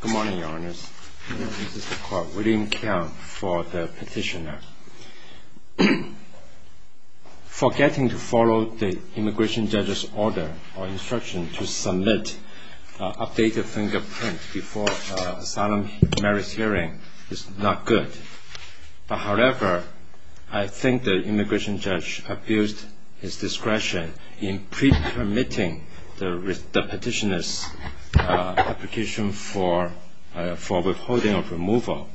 Good morning, Your Honours. This is the Court. William Keong for the Petitioner. Forgetting to follow the immigration judge's order or instruction to submit an updated fingerprint before an asylum merits hearing is not good. However, I think the immigration judge abused his discretion in pre-permitting the petitioner's application for withholding of removal.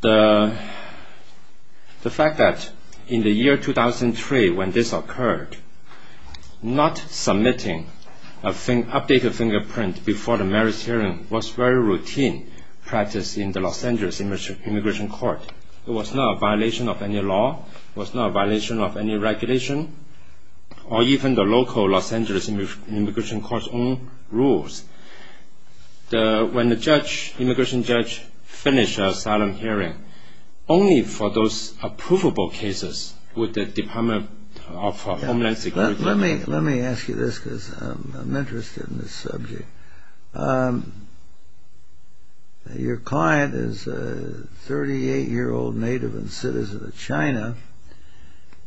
The fact that in the year 2003 when this occurred, not submitting an updated fingerprint before the merits hearing was very routine practice in the Los Angeles Immigration Court. It was not a violation of any law, it was not a violation of any regulation, or even the local Los Angeles Immigration Court's own rules. When the immigration judge finished the asylum hearing, only for those approvable cases would the Department of Homeland Security... Let me ask you this because I'm interested in this subject. Your client is a 38-year-old native and citizen of China,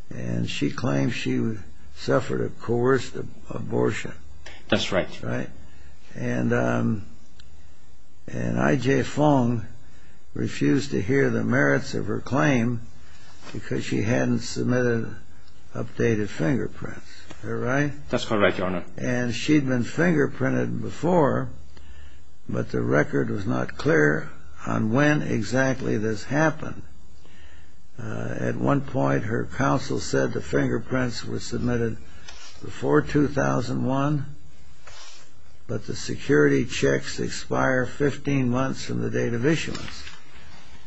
and she claims she suffered a coerced abortion. That's right. And I.J. Fong refused to hear the merits of her claim because she hadn't submitted updated fingerprints. Is that right? That's correct, Your Honour. And she'd been fingerprinted before, but the record was not clear on when exactly this happened. At one point her counsel said the fingerprints were submitted before 2001, but the security checks expire 15 months from the date of issuance.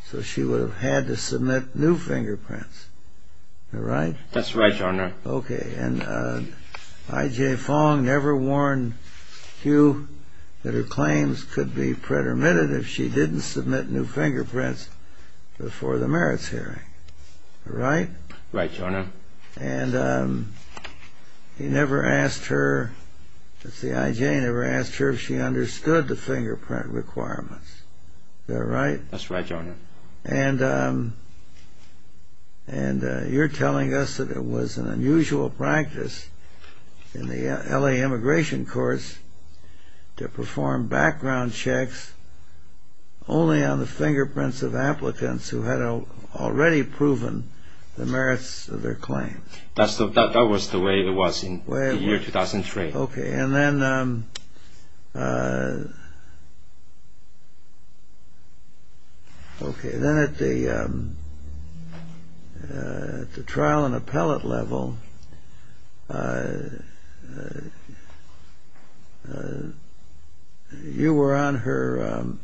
So she would have had to submit new fingerprints. Is that right? That's right, Your Honour. Okay, and I.J. Fong never warned Hugh that her claims could be pretermitted if she didn't submit new fingerprints before the merits hearing. Right? Right, Your Honour. And he never asked her, let's see, I.J. never asked her if she understood the fingerprint requirements. Is that right? That's right, Your Honour. And you're telling us that it was an unusual practice in the L.A. immigration courts to perform background checks only on the fingerprints of applicants who had already proven the merits of their claim. That was the way it was in the year 2003. Okay, and then at the trial and appellate level,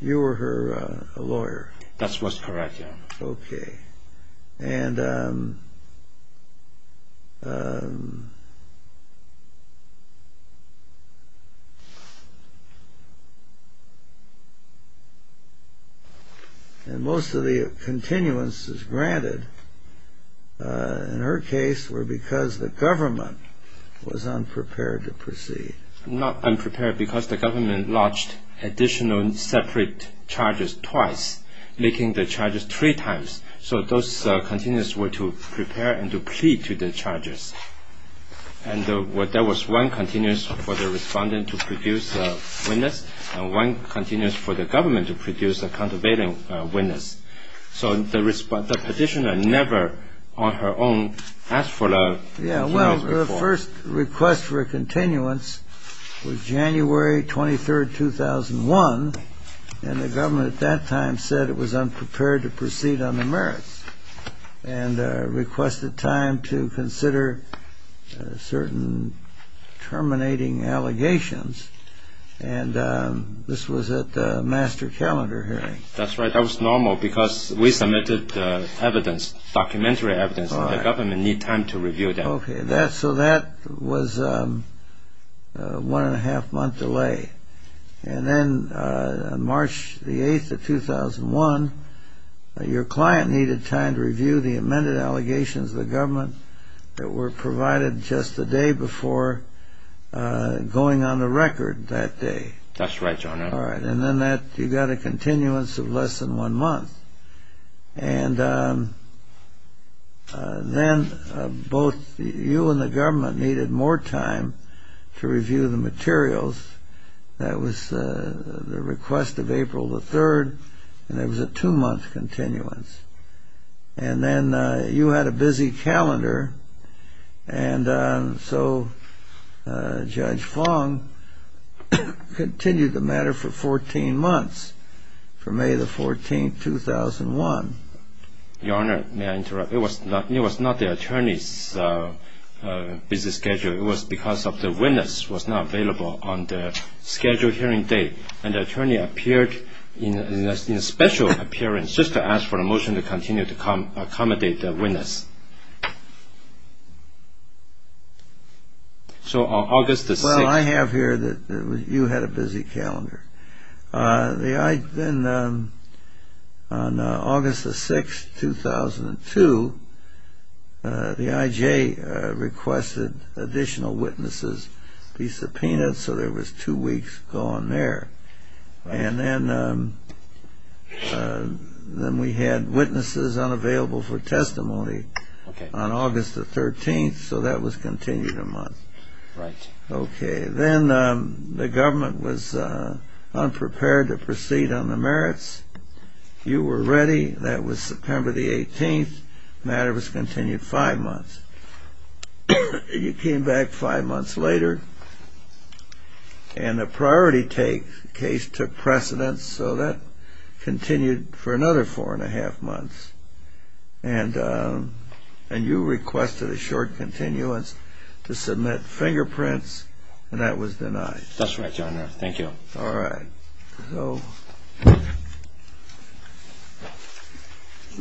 you were her lawyer. That's what's correct, Your Honour. Okay, and most of the continuances granted in her case were because the government was unprepared to proceed. Not unprepared because the government lodged additional separate charges twice, making the charges three times. So those continuances were to prepare and to plead to the charges. And there was one continuance for the respondent to produce a witness and one continuance for the government to produce a countervailing witness. So the petitioner never on her own asked for the continuance. Yeah, well, the first request for a continuance was January 23, 2001. And the government at that time said it was unprepared to proceed on the merits and requested time to consider certain terminating allegations. And this was at the master calendar hearing. That's right. That was normal because we submitted the evidence, documentary evidence, and the government needed time to review them. Okay, so that was a one-and-a-half-month delay. And then March 8, 2001, your client needed time to review the amended allegations of the government that were provided just the day before going on the record that day. That's right, Your Honour. All right, and then you got a continuance of less than one month. And then both you and the government needed more time to review the materials. That was the request of April the 3rd, and it was a two-month continuance. And then you had a busy calendar, and so Judge Fong continued the matter for 14 months, for May the 14th, 2001. Your Honour, may I interrupt? It was not the attorney's busy schedule. It was because the witness was not available on the scheduled hearing date, and the attorney appeared in a special appearance just to ask for a motion to continue to accommodate the witness. So on August the 6th... Well, I have here that you had a busy calendar. Then on August the 6th, 2002, the IJ requested additional witnesses be subpoenaed, so there was two weeks gone there. And then we had witnesses unavailable for testimony on August the 13th, so that was continued a month. Right. Okay. Then the government was unprepared to proceed on the merits. You were ready. That was September the 18th. The matter was continued five months. You came back five months later, and the priority take case took precedence, so that continued for another four and a half months. And you requested a short continuance to submit fingerprints, and that was denied. That's right, Your Honour. Thank you. All right.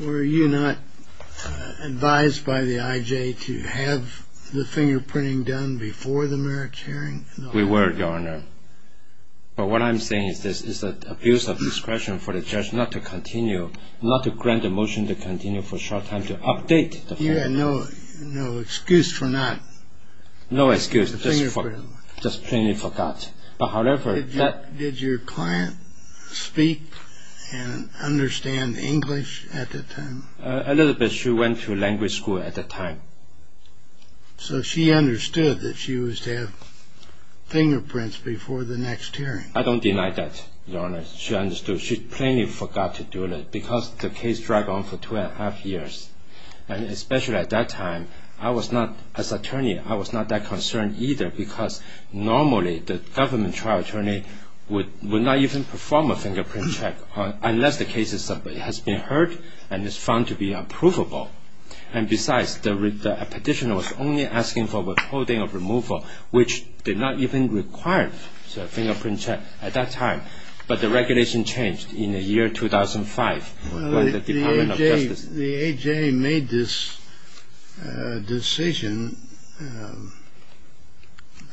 Were you not advised by the IJ to have the fingerprinting done before the merits hearing? We were, Your Honour. But what I'm saying is this, it's an abuse of discretion for the judge not to continue, not to grant a motion to continue for a short time to update the fingerprint. You had no excuse for not... No excuse, just plainly forgot. But however, that... Did your client speak and understand English at that time? A little bit. She went to language school at that time. So she understood that she was to have fingerprints before the next hearing. I don't deny that, Your Honour. She understood. She plainly forgot to do it because the case dragged on for two and a half years. And especially at that time, I was not, as attorney, I was not that concerned either because normally the government trial attorney would not even perform a fingerprint check unless the case has been heard and is found to be unprovable. And besides, the petitioner was only asking for withholding of removal, which did not even require a fingerprint check at that time. But the regulation changed in the year 2005 by the Department of Justice. The A.J. made this decision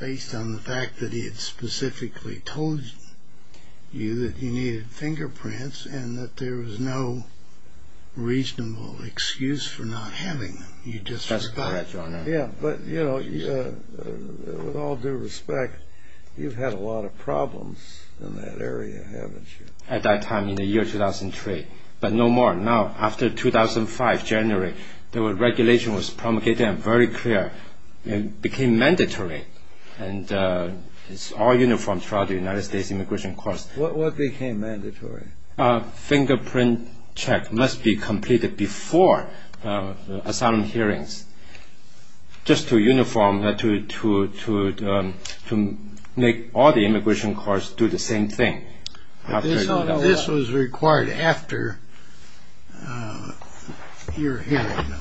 based on the fact that he had specifically told you that he needed fingerprints and that there was no reasonable excuse for not having them. You just forgot. That's correct, Your Honour. Yeah, but, you know, with all due respect, you've had a lot of problems in that area, haven't you? At that time, in the year 2003, but no more now. After 2005, January, the regulation was promulgated and very clear. It became mandatory and it's all uniform throughout the United States immigration courts. What became mandatory? A fingerprint check must be completed before asylum hearings just to uniform, to make all the immigration courts do the same thing. This was required after your hearing, though.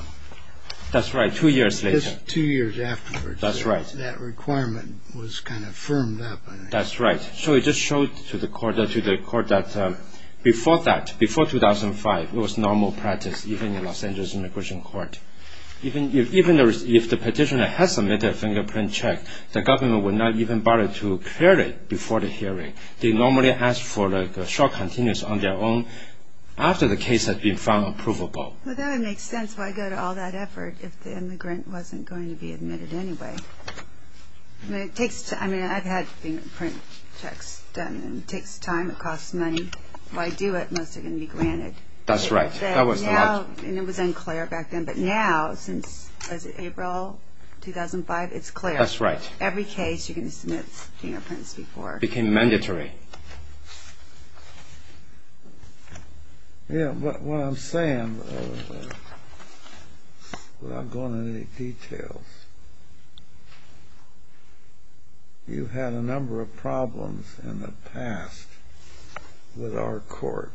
That's right. Two years later. Two years afterwards. That's right. That requirement was kind of firmed up. That's right. So it just showed to the court that before that, before 2005, it was normal practice, even in Los Angeles immigration court. Even if the petitioner has submitted a fingerprint check, the government would not even bother to clear it before the hearing. They normally ask for a short continence on their own after the case has been found approvable. Well, that would make sense. Why go to all that effort if the immigrant wasn't going to be admitted anyway? I mean, I've had fingerprint checks done. It takes time. It costs money. If I do it, most are going to be granted. That's right. That was the logic. And it was unclear back then. But now, since April 2005, it's clear. That's right. Every case, you're going to submit fingerprints before. It became mandatory. Yeah, but what I'm saying, without going into any details, you've had a number of problems in the past with our court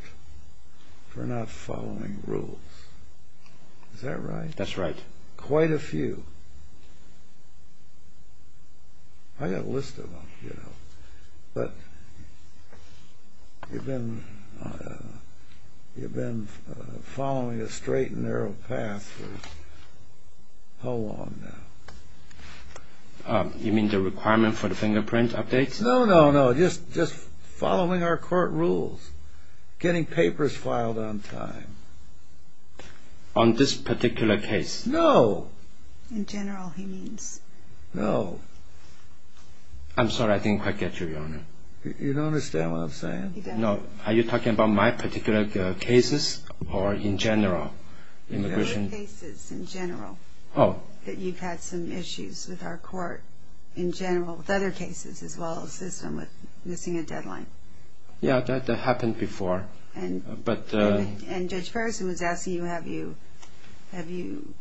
for not following rules. Is that right? That's right. Quite a few. I've got a list of them, you know. But you've been following a straight and narrow path for how long now? You mean the requirement for the fingerprint updates? No, no, no. Just following our court rules, getting papers filed on time. On this particular case? No. In general, he means. No. I'm sorry. I didn't quite get you, Your Honor. You don't understand what I'm saying. No. Are you talking about my particular cases or in general? The other cases in general. Oh. That you've had some issues with our court in general, with other cases as well as this one with missing a deadline. Yeah, that happened before. And Judge Ferguson was asking you, have you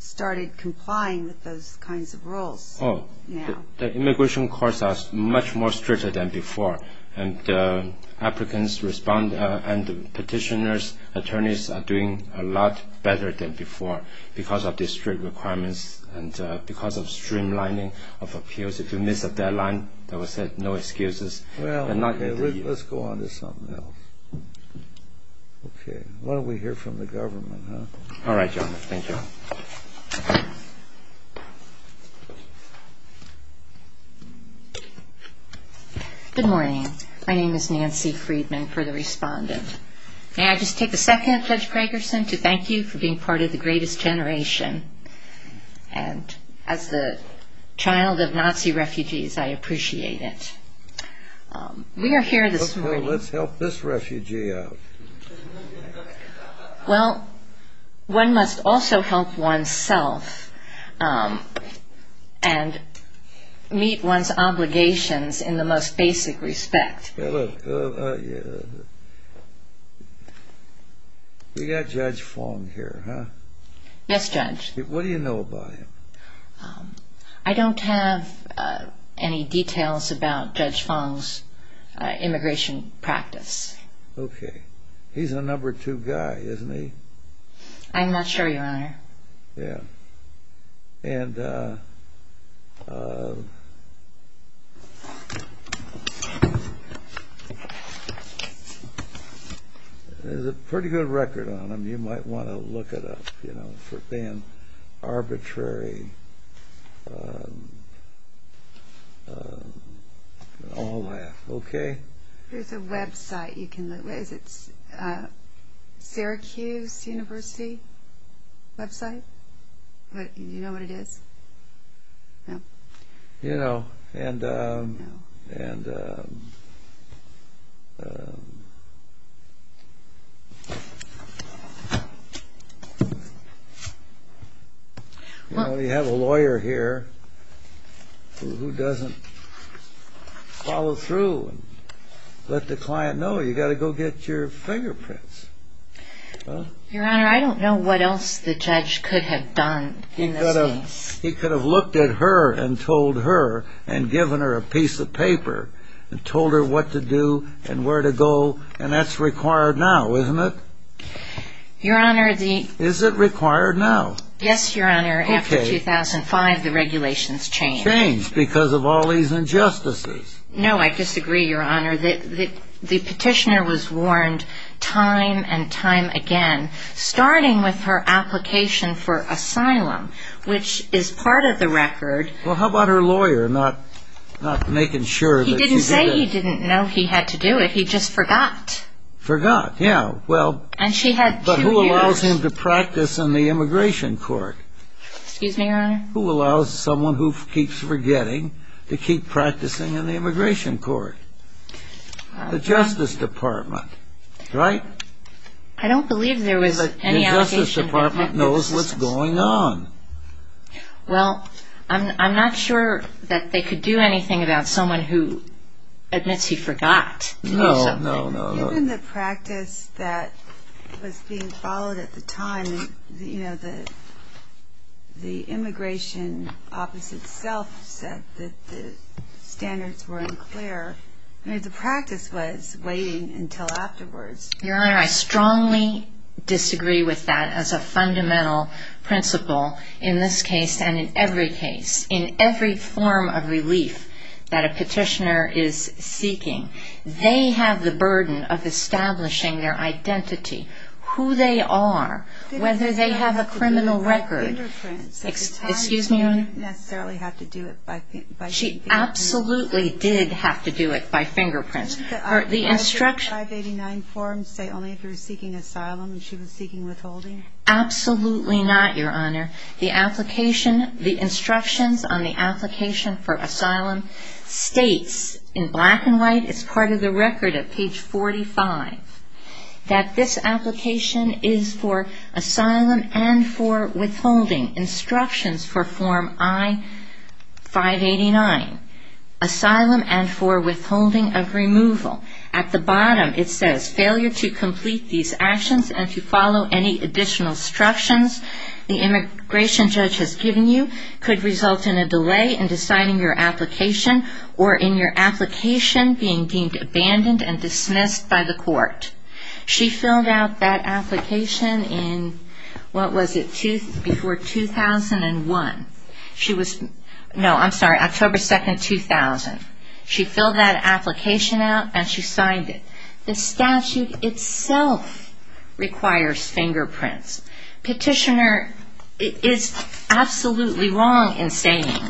started complying with those kinds of rules now? The immigration courts are much more stricter than before, and the applicants respond and the petitioners, attorneys are doing a lot better than before because of the strict requirements and because of streamlining of appeals. If you miss a deadline, they will say no excuses. Well, let's go on to something else. Okay. Why don't we hear from the government, huh? All right, Your Honor. Thank you. Good morning. My name is Nancy Friedman, further respondent. May I just take a second, Judge Gregerson, to thank you for being part of the greatest generation. And as the child of Nazi refugees, I appreciate it. We are here this morning. Okay, let's help this refugee out. Well, one must also help oneself and meet one's obligations in the most basic respect. We got Judge Fong here, huh? Yes, Judge. What do you know about him? I don't have any details about Judge Fong's immigration practice. Okay. He's a number two guy, isn't he? I'm not sure, Your Honor. Yeah. There's a pretty good record on him. You might want to look it up, you know, for being arbitrary and all that. Okay? There's a website you can look at. Is it Syracuse University website? Do you know what it is? No. You know, and... No. And... You know, we have a lawyer here who doesn't follow through and let the client know. You've got to go get your fingerprints. Your Honor, I don't know what else the judge could have done in this case. He could have looked at her and told her and given her a piece of paper and told her what to do and where to go. And that's required now, isn't it? Your Honor, the... Is it required now? Yes, Your Honor. Okay. After 2005, the regulations changed. Changed because of all these injustices. No, I disagree, Your Honor. The petitioner was warned time and time again, starting with her application for asylum, which is part of the record. Well, how about her lawyer not making sure that she did it? He didn't say he didn't know he had to do it. He just forgot. Forgot, yeah. Well... And she had two years. But who allows him to practice in the immigration court? Excuse me, Your Honor? Who allows someone who keeps forgetting to keep practicing in the immigration court? The Justice Department, right? I don't believe there was any allegation... The Justice Department knows what's going on. Well, I'm not sure that they could do anything about someone who admits he forgot to do something. No, no, no. Even the practice that was being followed at the time, you know, the immigration office itself said that the standards were unclear. I mean, the practice was waiting until afterwards. Your Honor, I strongly disagree with that as a fundamental principle in this case and in every case. In every form of relief that a petitioner is seeking, they have the burden of establishing their identity, who they are, whether they have a criminal record. Excuse me, Your Honor? She didn't necessarily have to do it by fingerprints. She absolutely did have to do it by fingerprints. Didn't the 589 form say only if you were seeking asylum and she was seeking withholding? Absolutely not, Your Honor. The application, the instructions on the application for asylum states in black and white, it's part of the record at page 45, that this application is for asylum and for withholding, instructions for form I-589, asylum and for withholding of removal. At the bottom, it says, failure to complete these actions and to follow any additional instructions the immigration judge has given you could result in a delay in deciding your application or in your application being deemed abandoned and dismissed by the court. She filled out that application in, what was it, before 2001. She was, no, I'm sorry, October 2nd, 2000. She filled that application out and she signed it. The statute itself requires fingerprints. Petitioner is absolutely wrong in saying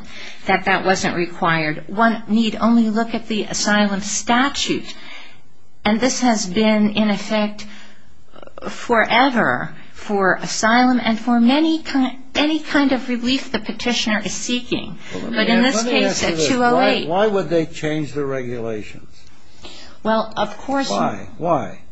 that that wasn't required. One need only look at the asylum statute. And this has been, in effect, forever for asylum and for any kind of relief the petitioner is seeking. But in this case, at 208. Why would they change the regulations? Well, of course. Why?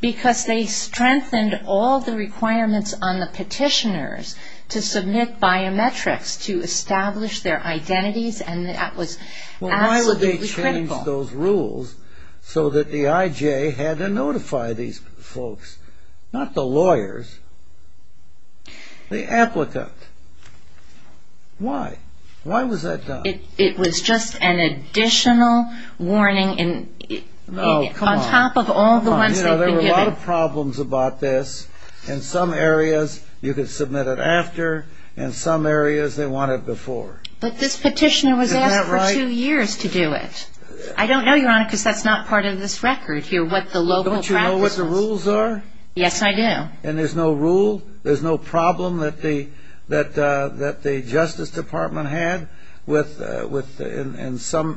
Because they strengthened all the requirements on the petitioners to submit biometrics to establish their identities and that was absolutely critical. Well, why would they change those rules so that the IJ had to notify these folks, not the lawyers, the applicant? Why? Why was that done? It was just an additional warning on top of all the ones they've been giving. There were a lot of problems about this. In some areas you could submit it after. In some areas they want it before. But this petitioner was asked for two years to do it. I don't know, Your Honor, because that's not part of this record here, what the local practices. Don't you know what the rules are? Yes, I do. And there's no rule? That the Justice Department had in some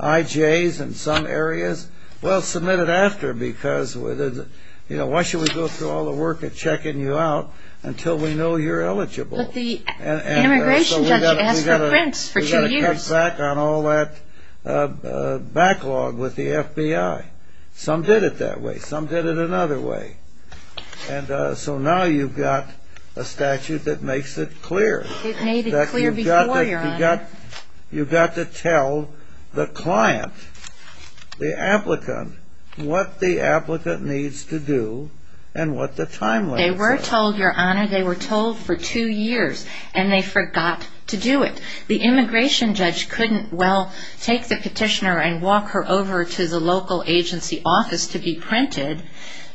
IJs in some areas? Well, submit it after because why should we go through all the work of checking you out until we know you're eligible? But the immigration judge asked for prints for two years. We've got to cut back on all that backlog with the FBI. Some did it that way. Some did it another way. And so now you've got a statute that makes it clear. It made it clear before, Your Honor. You've got to tell the client, the applicant, what the applicant needs to do and what the timelines are. They were told, Your Honor, they were told for two years, and they forgot to do it. The immigration judge couldn't, well, take the petitioner and walk her over to the local agency office to be printed.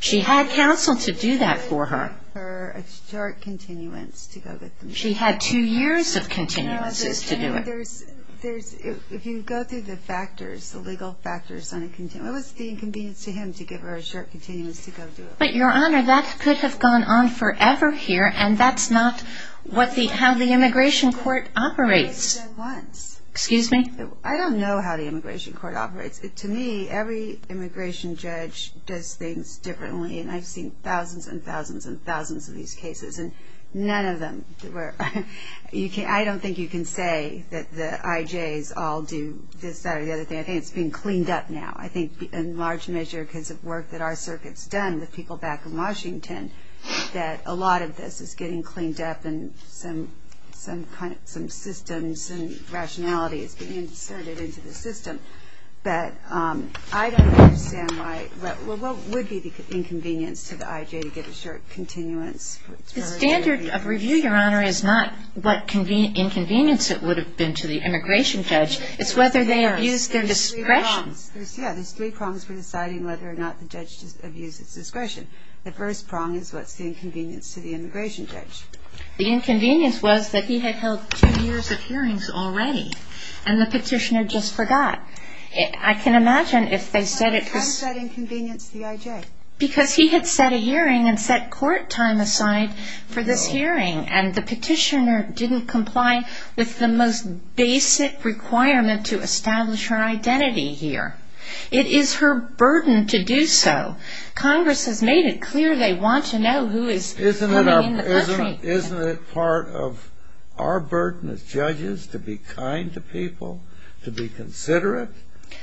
She had counsel to do that for her. A short continuance to go get them. She had two years of continuances to do it. If you go through the factors, the legal factors on a continuance, what was the inconvenience to him to give her a short continuance to go do it? But, Your Honor, that could have gone on forever here, and that's not how the immigration court operates. Excuse me? I don't know how the immigration court operates. To me, every immigration judge does things differently, and I've seen thousands and thousands and thousands of these cases, and none of them where I don't think you can say that the IJs all do this, that, or the other thing. I think it's being cleaned up now. I think in large measure because of work that our circuit's done with people back in Washington, that a lot of this is getting cleaned up and some systems and rationality is being inserted into the system. But I don't understand why, well, what would be the inconvenience to the IJ to give a short continuance? The standard of review, Your Honor, is not what inconvenience it would have been to the immigration judge. It's whether they abused their discretion. There's three prongs. Yeah, there's three prongs for deciding whether or not the judge abused his discretion. The first prong is what's the inconvenience to the immigration judge. The inconvenience was that he had held two years of hearings already, and the petitioner just forgot. I can imagine if they said it was. Why was that an inconvenience to the IJ? Because he had set a hearing and set court time aside for this hearing, and the petitioner didn't comply with the most basic requirement to establish her identity here. It is her burden to do so. Congress has made it clear they want to know who is coming in the country. Isn't it part of our burden as judges to be kind to people, to be considerate,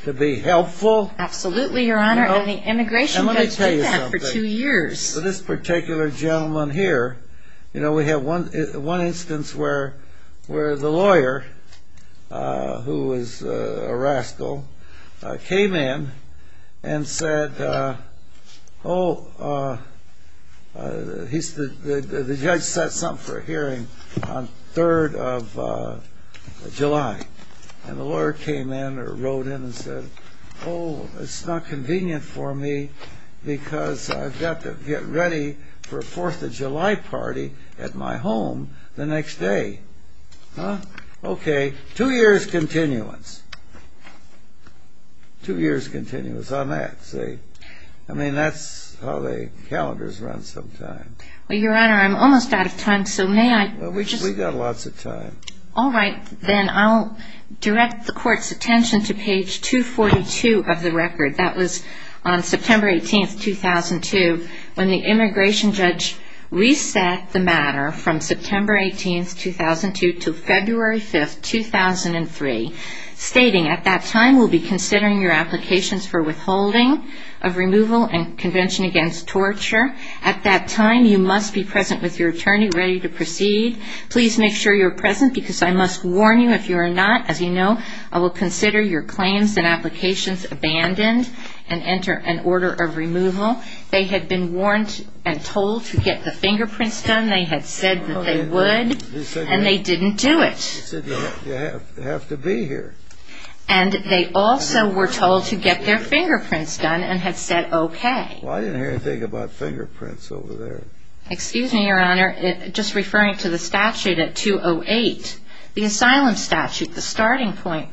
to be helpful? Absolutely, Your Honor, and the immigration judge did that for two years. This particular gentleman here, we have one instance where the lawyer, who is a rascal, came in and said, oh, the judge set something for a hearing on 3rd of July, and the lawyer came in or wrote in and said, oh, it's not convenient for me because I've got to get ready for a 4th of July party at my home the next day. Okay, two years' continuance. Two years' continuance on that. I mean, that's how the calendars run sometimes. Well, Your Honor, I'm almost out of time, so may I? We've got lots of time. All right, then. I'll direct the Court's attention to page 242 of the record. That was on September 18, 2002, when the immigration judge reset the matter from September 18, 2002, to February 5, 2003, stating, at that time we'll be considering your applications for withholding of removal and convention against torture. At that time, you must be present with your attorney, ready to proceed. Please make sure you're present because I must warn you, if you are not, as you know, I will consider your claims and applications abandoned and enter an order of removal. They had been warned and told to get the fingerprints done. They had said that they would, and they didn't do it. They said you have to be here. And they also were told to get their fingerprints done and had said okay. Well, I didn't hear anything about fingerprints over there. Excuse me, Your Honor, just referring to the statute at 208. The asylum statute, the starting point.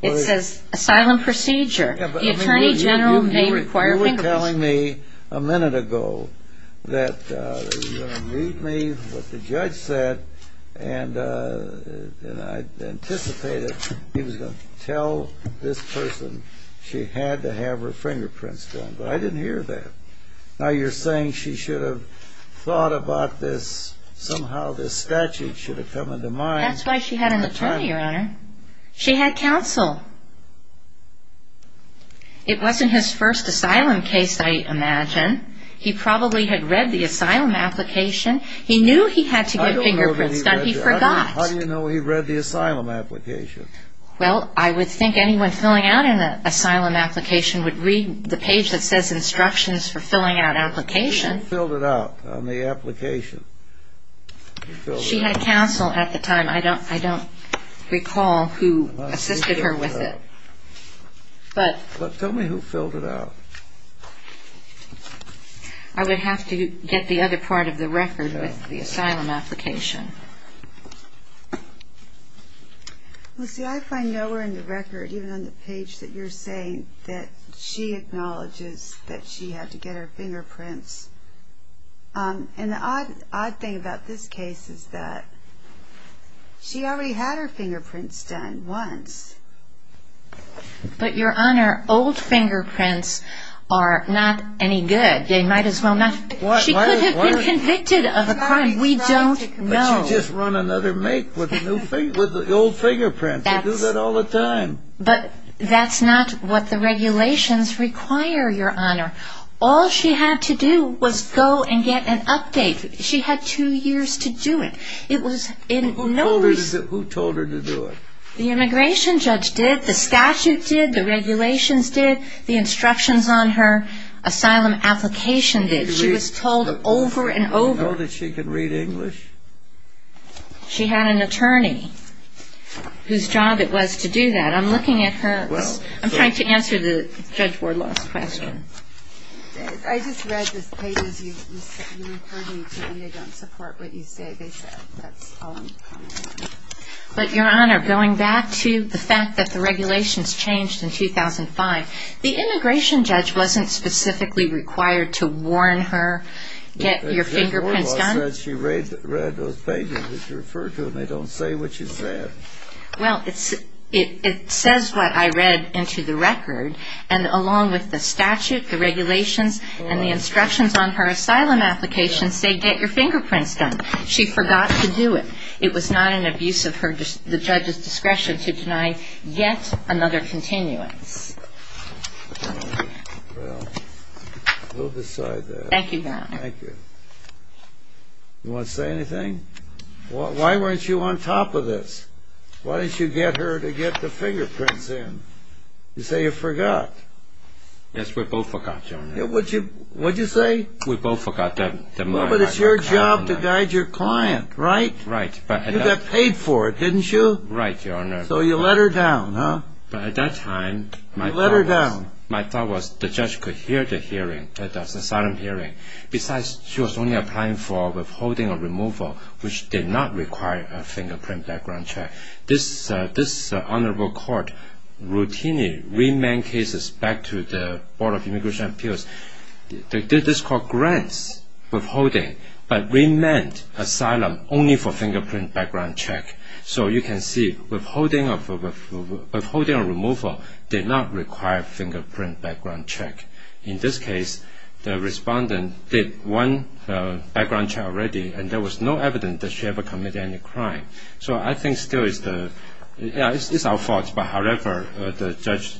It says asylum procedure. The attorney general may require fingerprints. You were telling me a minute ago that you were going to meet me, what the judge said, and I anticipated he was going to tell this person she had to have her fingerprints done, but I didn't hear that. Now you're saying she should have thought about this. Somehow this statute should have come into mind. That's why she had an attorney, Your Honor. She had counsel. It wasn't his first asylum case, I imagine. He probably had read the asylum application. He knew he had to get fingerprints done. I don't know that he read it. He forgot. How do you know he read the asylum application? Well, I would think anyone filling out an asylum application would read the page that says instructions for filling out applications. Who filled it out on the application? She had counsel at the time. I don't recall who assisted her with it. Tell me who filled it out. I would have to get the other part of the record with the asylum application. Lucy, I find nowhere in the record, even on the page that you're saying, that she acknowledges that she had to get her fingerprints. And the odd thing about this case is that she already had her fingerprints done once. But, Your Honor, old fingerprints are not any good. They might as well not be. She could have been convicted of a crime. We don't know. But you just run another make with the old fingerprints. They do that all the time. But that's not what the regulations require, Your Honor. All she had to do was go and get an update. She had two years to do it. Who told her to do it? The immigration judge did. The statute did. The regulations did. The instructions on her asylum application did. She was told over and over. Did she know that she could read English? She had an attorney whose job it was to do that. I'm looking at her. I'm trying to answer Judge Wardlaw's question. I just read the pages you referred me to, and I don't support what you say. That's all I'm commenting on. But, Your Honor, going back to the fact that the regulations changed in 2005, the immigration judge wasn't specifically required to warn her, get your fingerprints done? Judge Wardlaw said she read those pages that you referred to, and they don't say what she said. Well, it says what I read into the record, and along with the statute, the regulations, and the instructions on her asylum application say get your fingerprints done. She forgot to do it. It was not in abuse of the judge's discretion to deny yet another continuance. Well, we'll decide that. Thank you, Your Honor. Thank you. You want to say anything? Why weren't you on top of this? Why didn't you get her to get the fingerprints in? You say you forgot. Yes, we both forgot, Your Honor. What did you say? We both forgot. Well, but it's your job to guide your client, right? Right. You got paid for it, didn't you? Right, Your Honor. So you let her down, huh? At that time, my thought was the judge could hear the hearing, the asylum hearing. Besides, she was only applying for withholding or removal, which did not require a fingerprint background check. This honorable court routinely remanded cases back to the Board of Immigration and Appeals. They did this called grants withholding, but remanded asylum only for fingerprint background check. So you can see withholding or removal did not require fingerprint background check. In this case, the respondent did one background check already, and there was no evidence that she ever committed any crime. So I think still it's our fault. However, the judge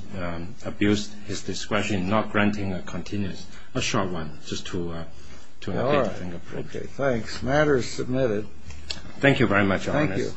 abused his discretion, not granting a continuous, a short one, just to get the fingerprint. All right. Okay, thanks. Matter is submitted. Thank you very much, Your Honor. Thank you.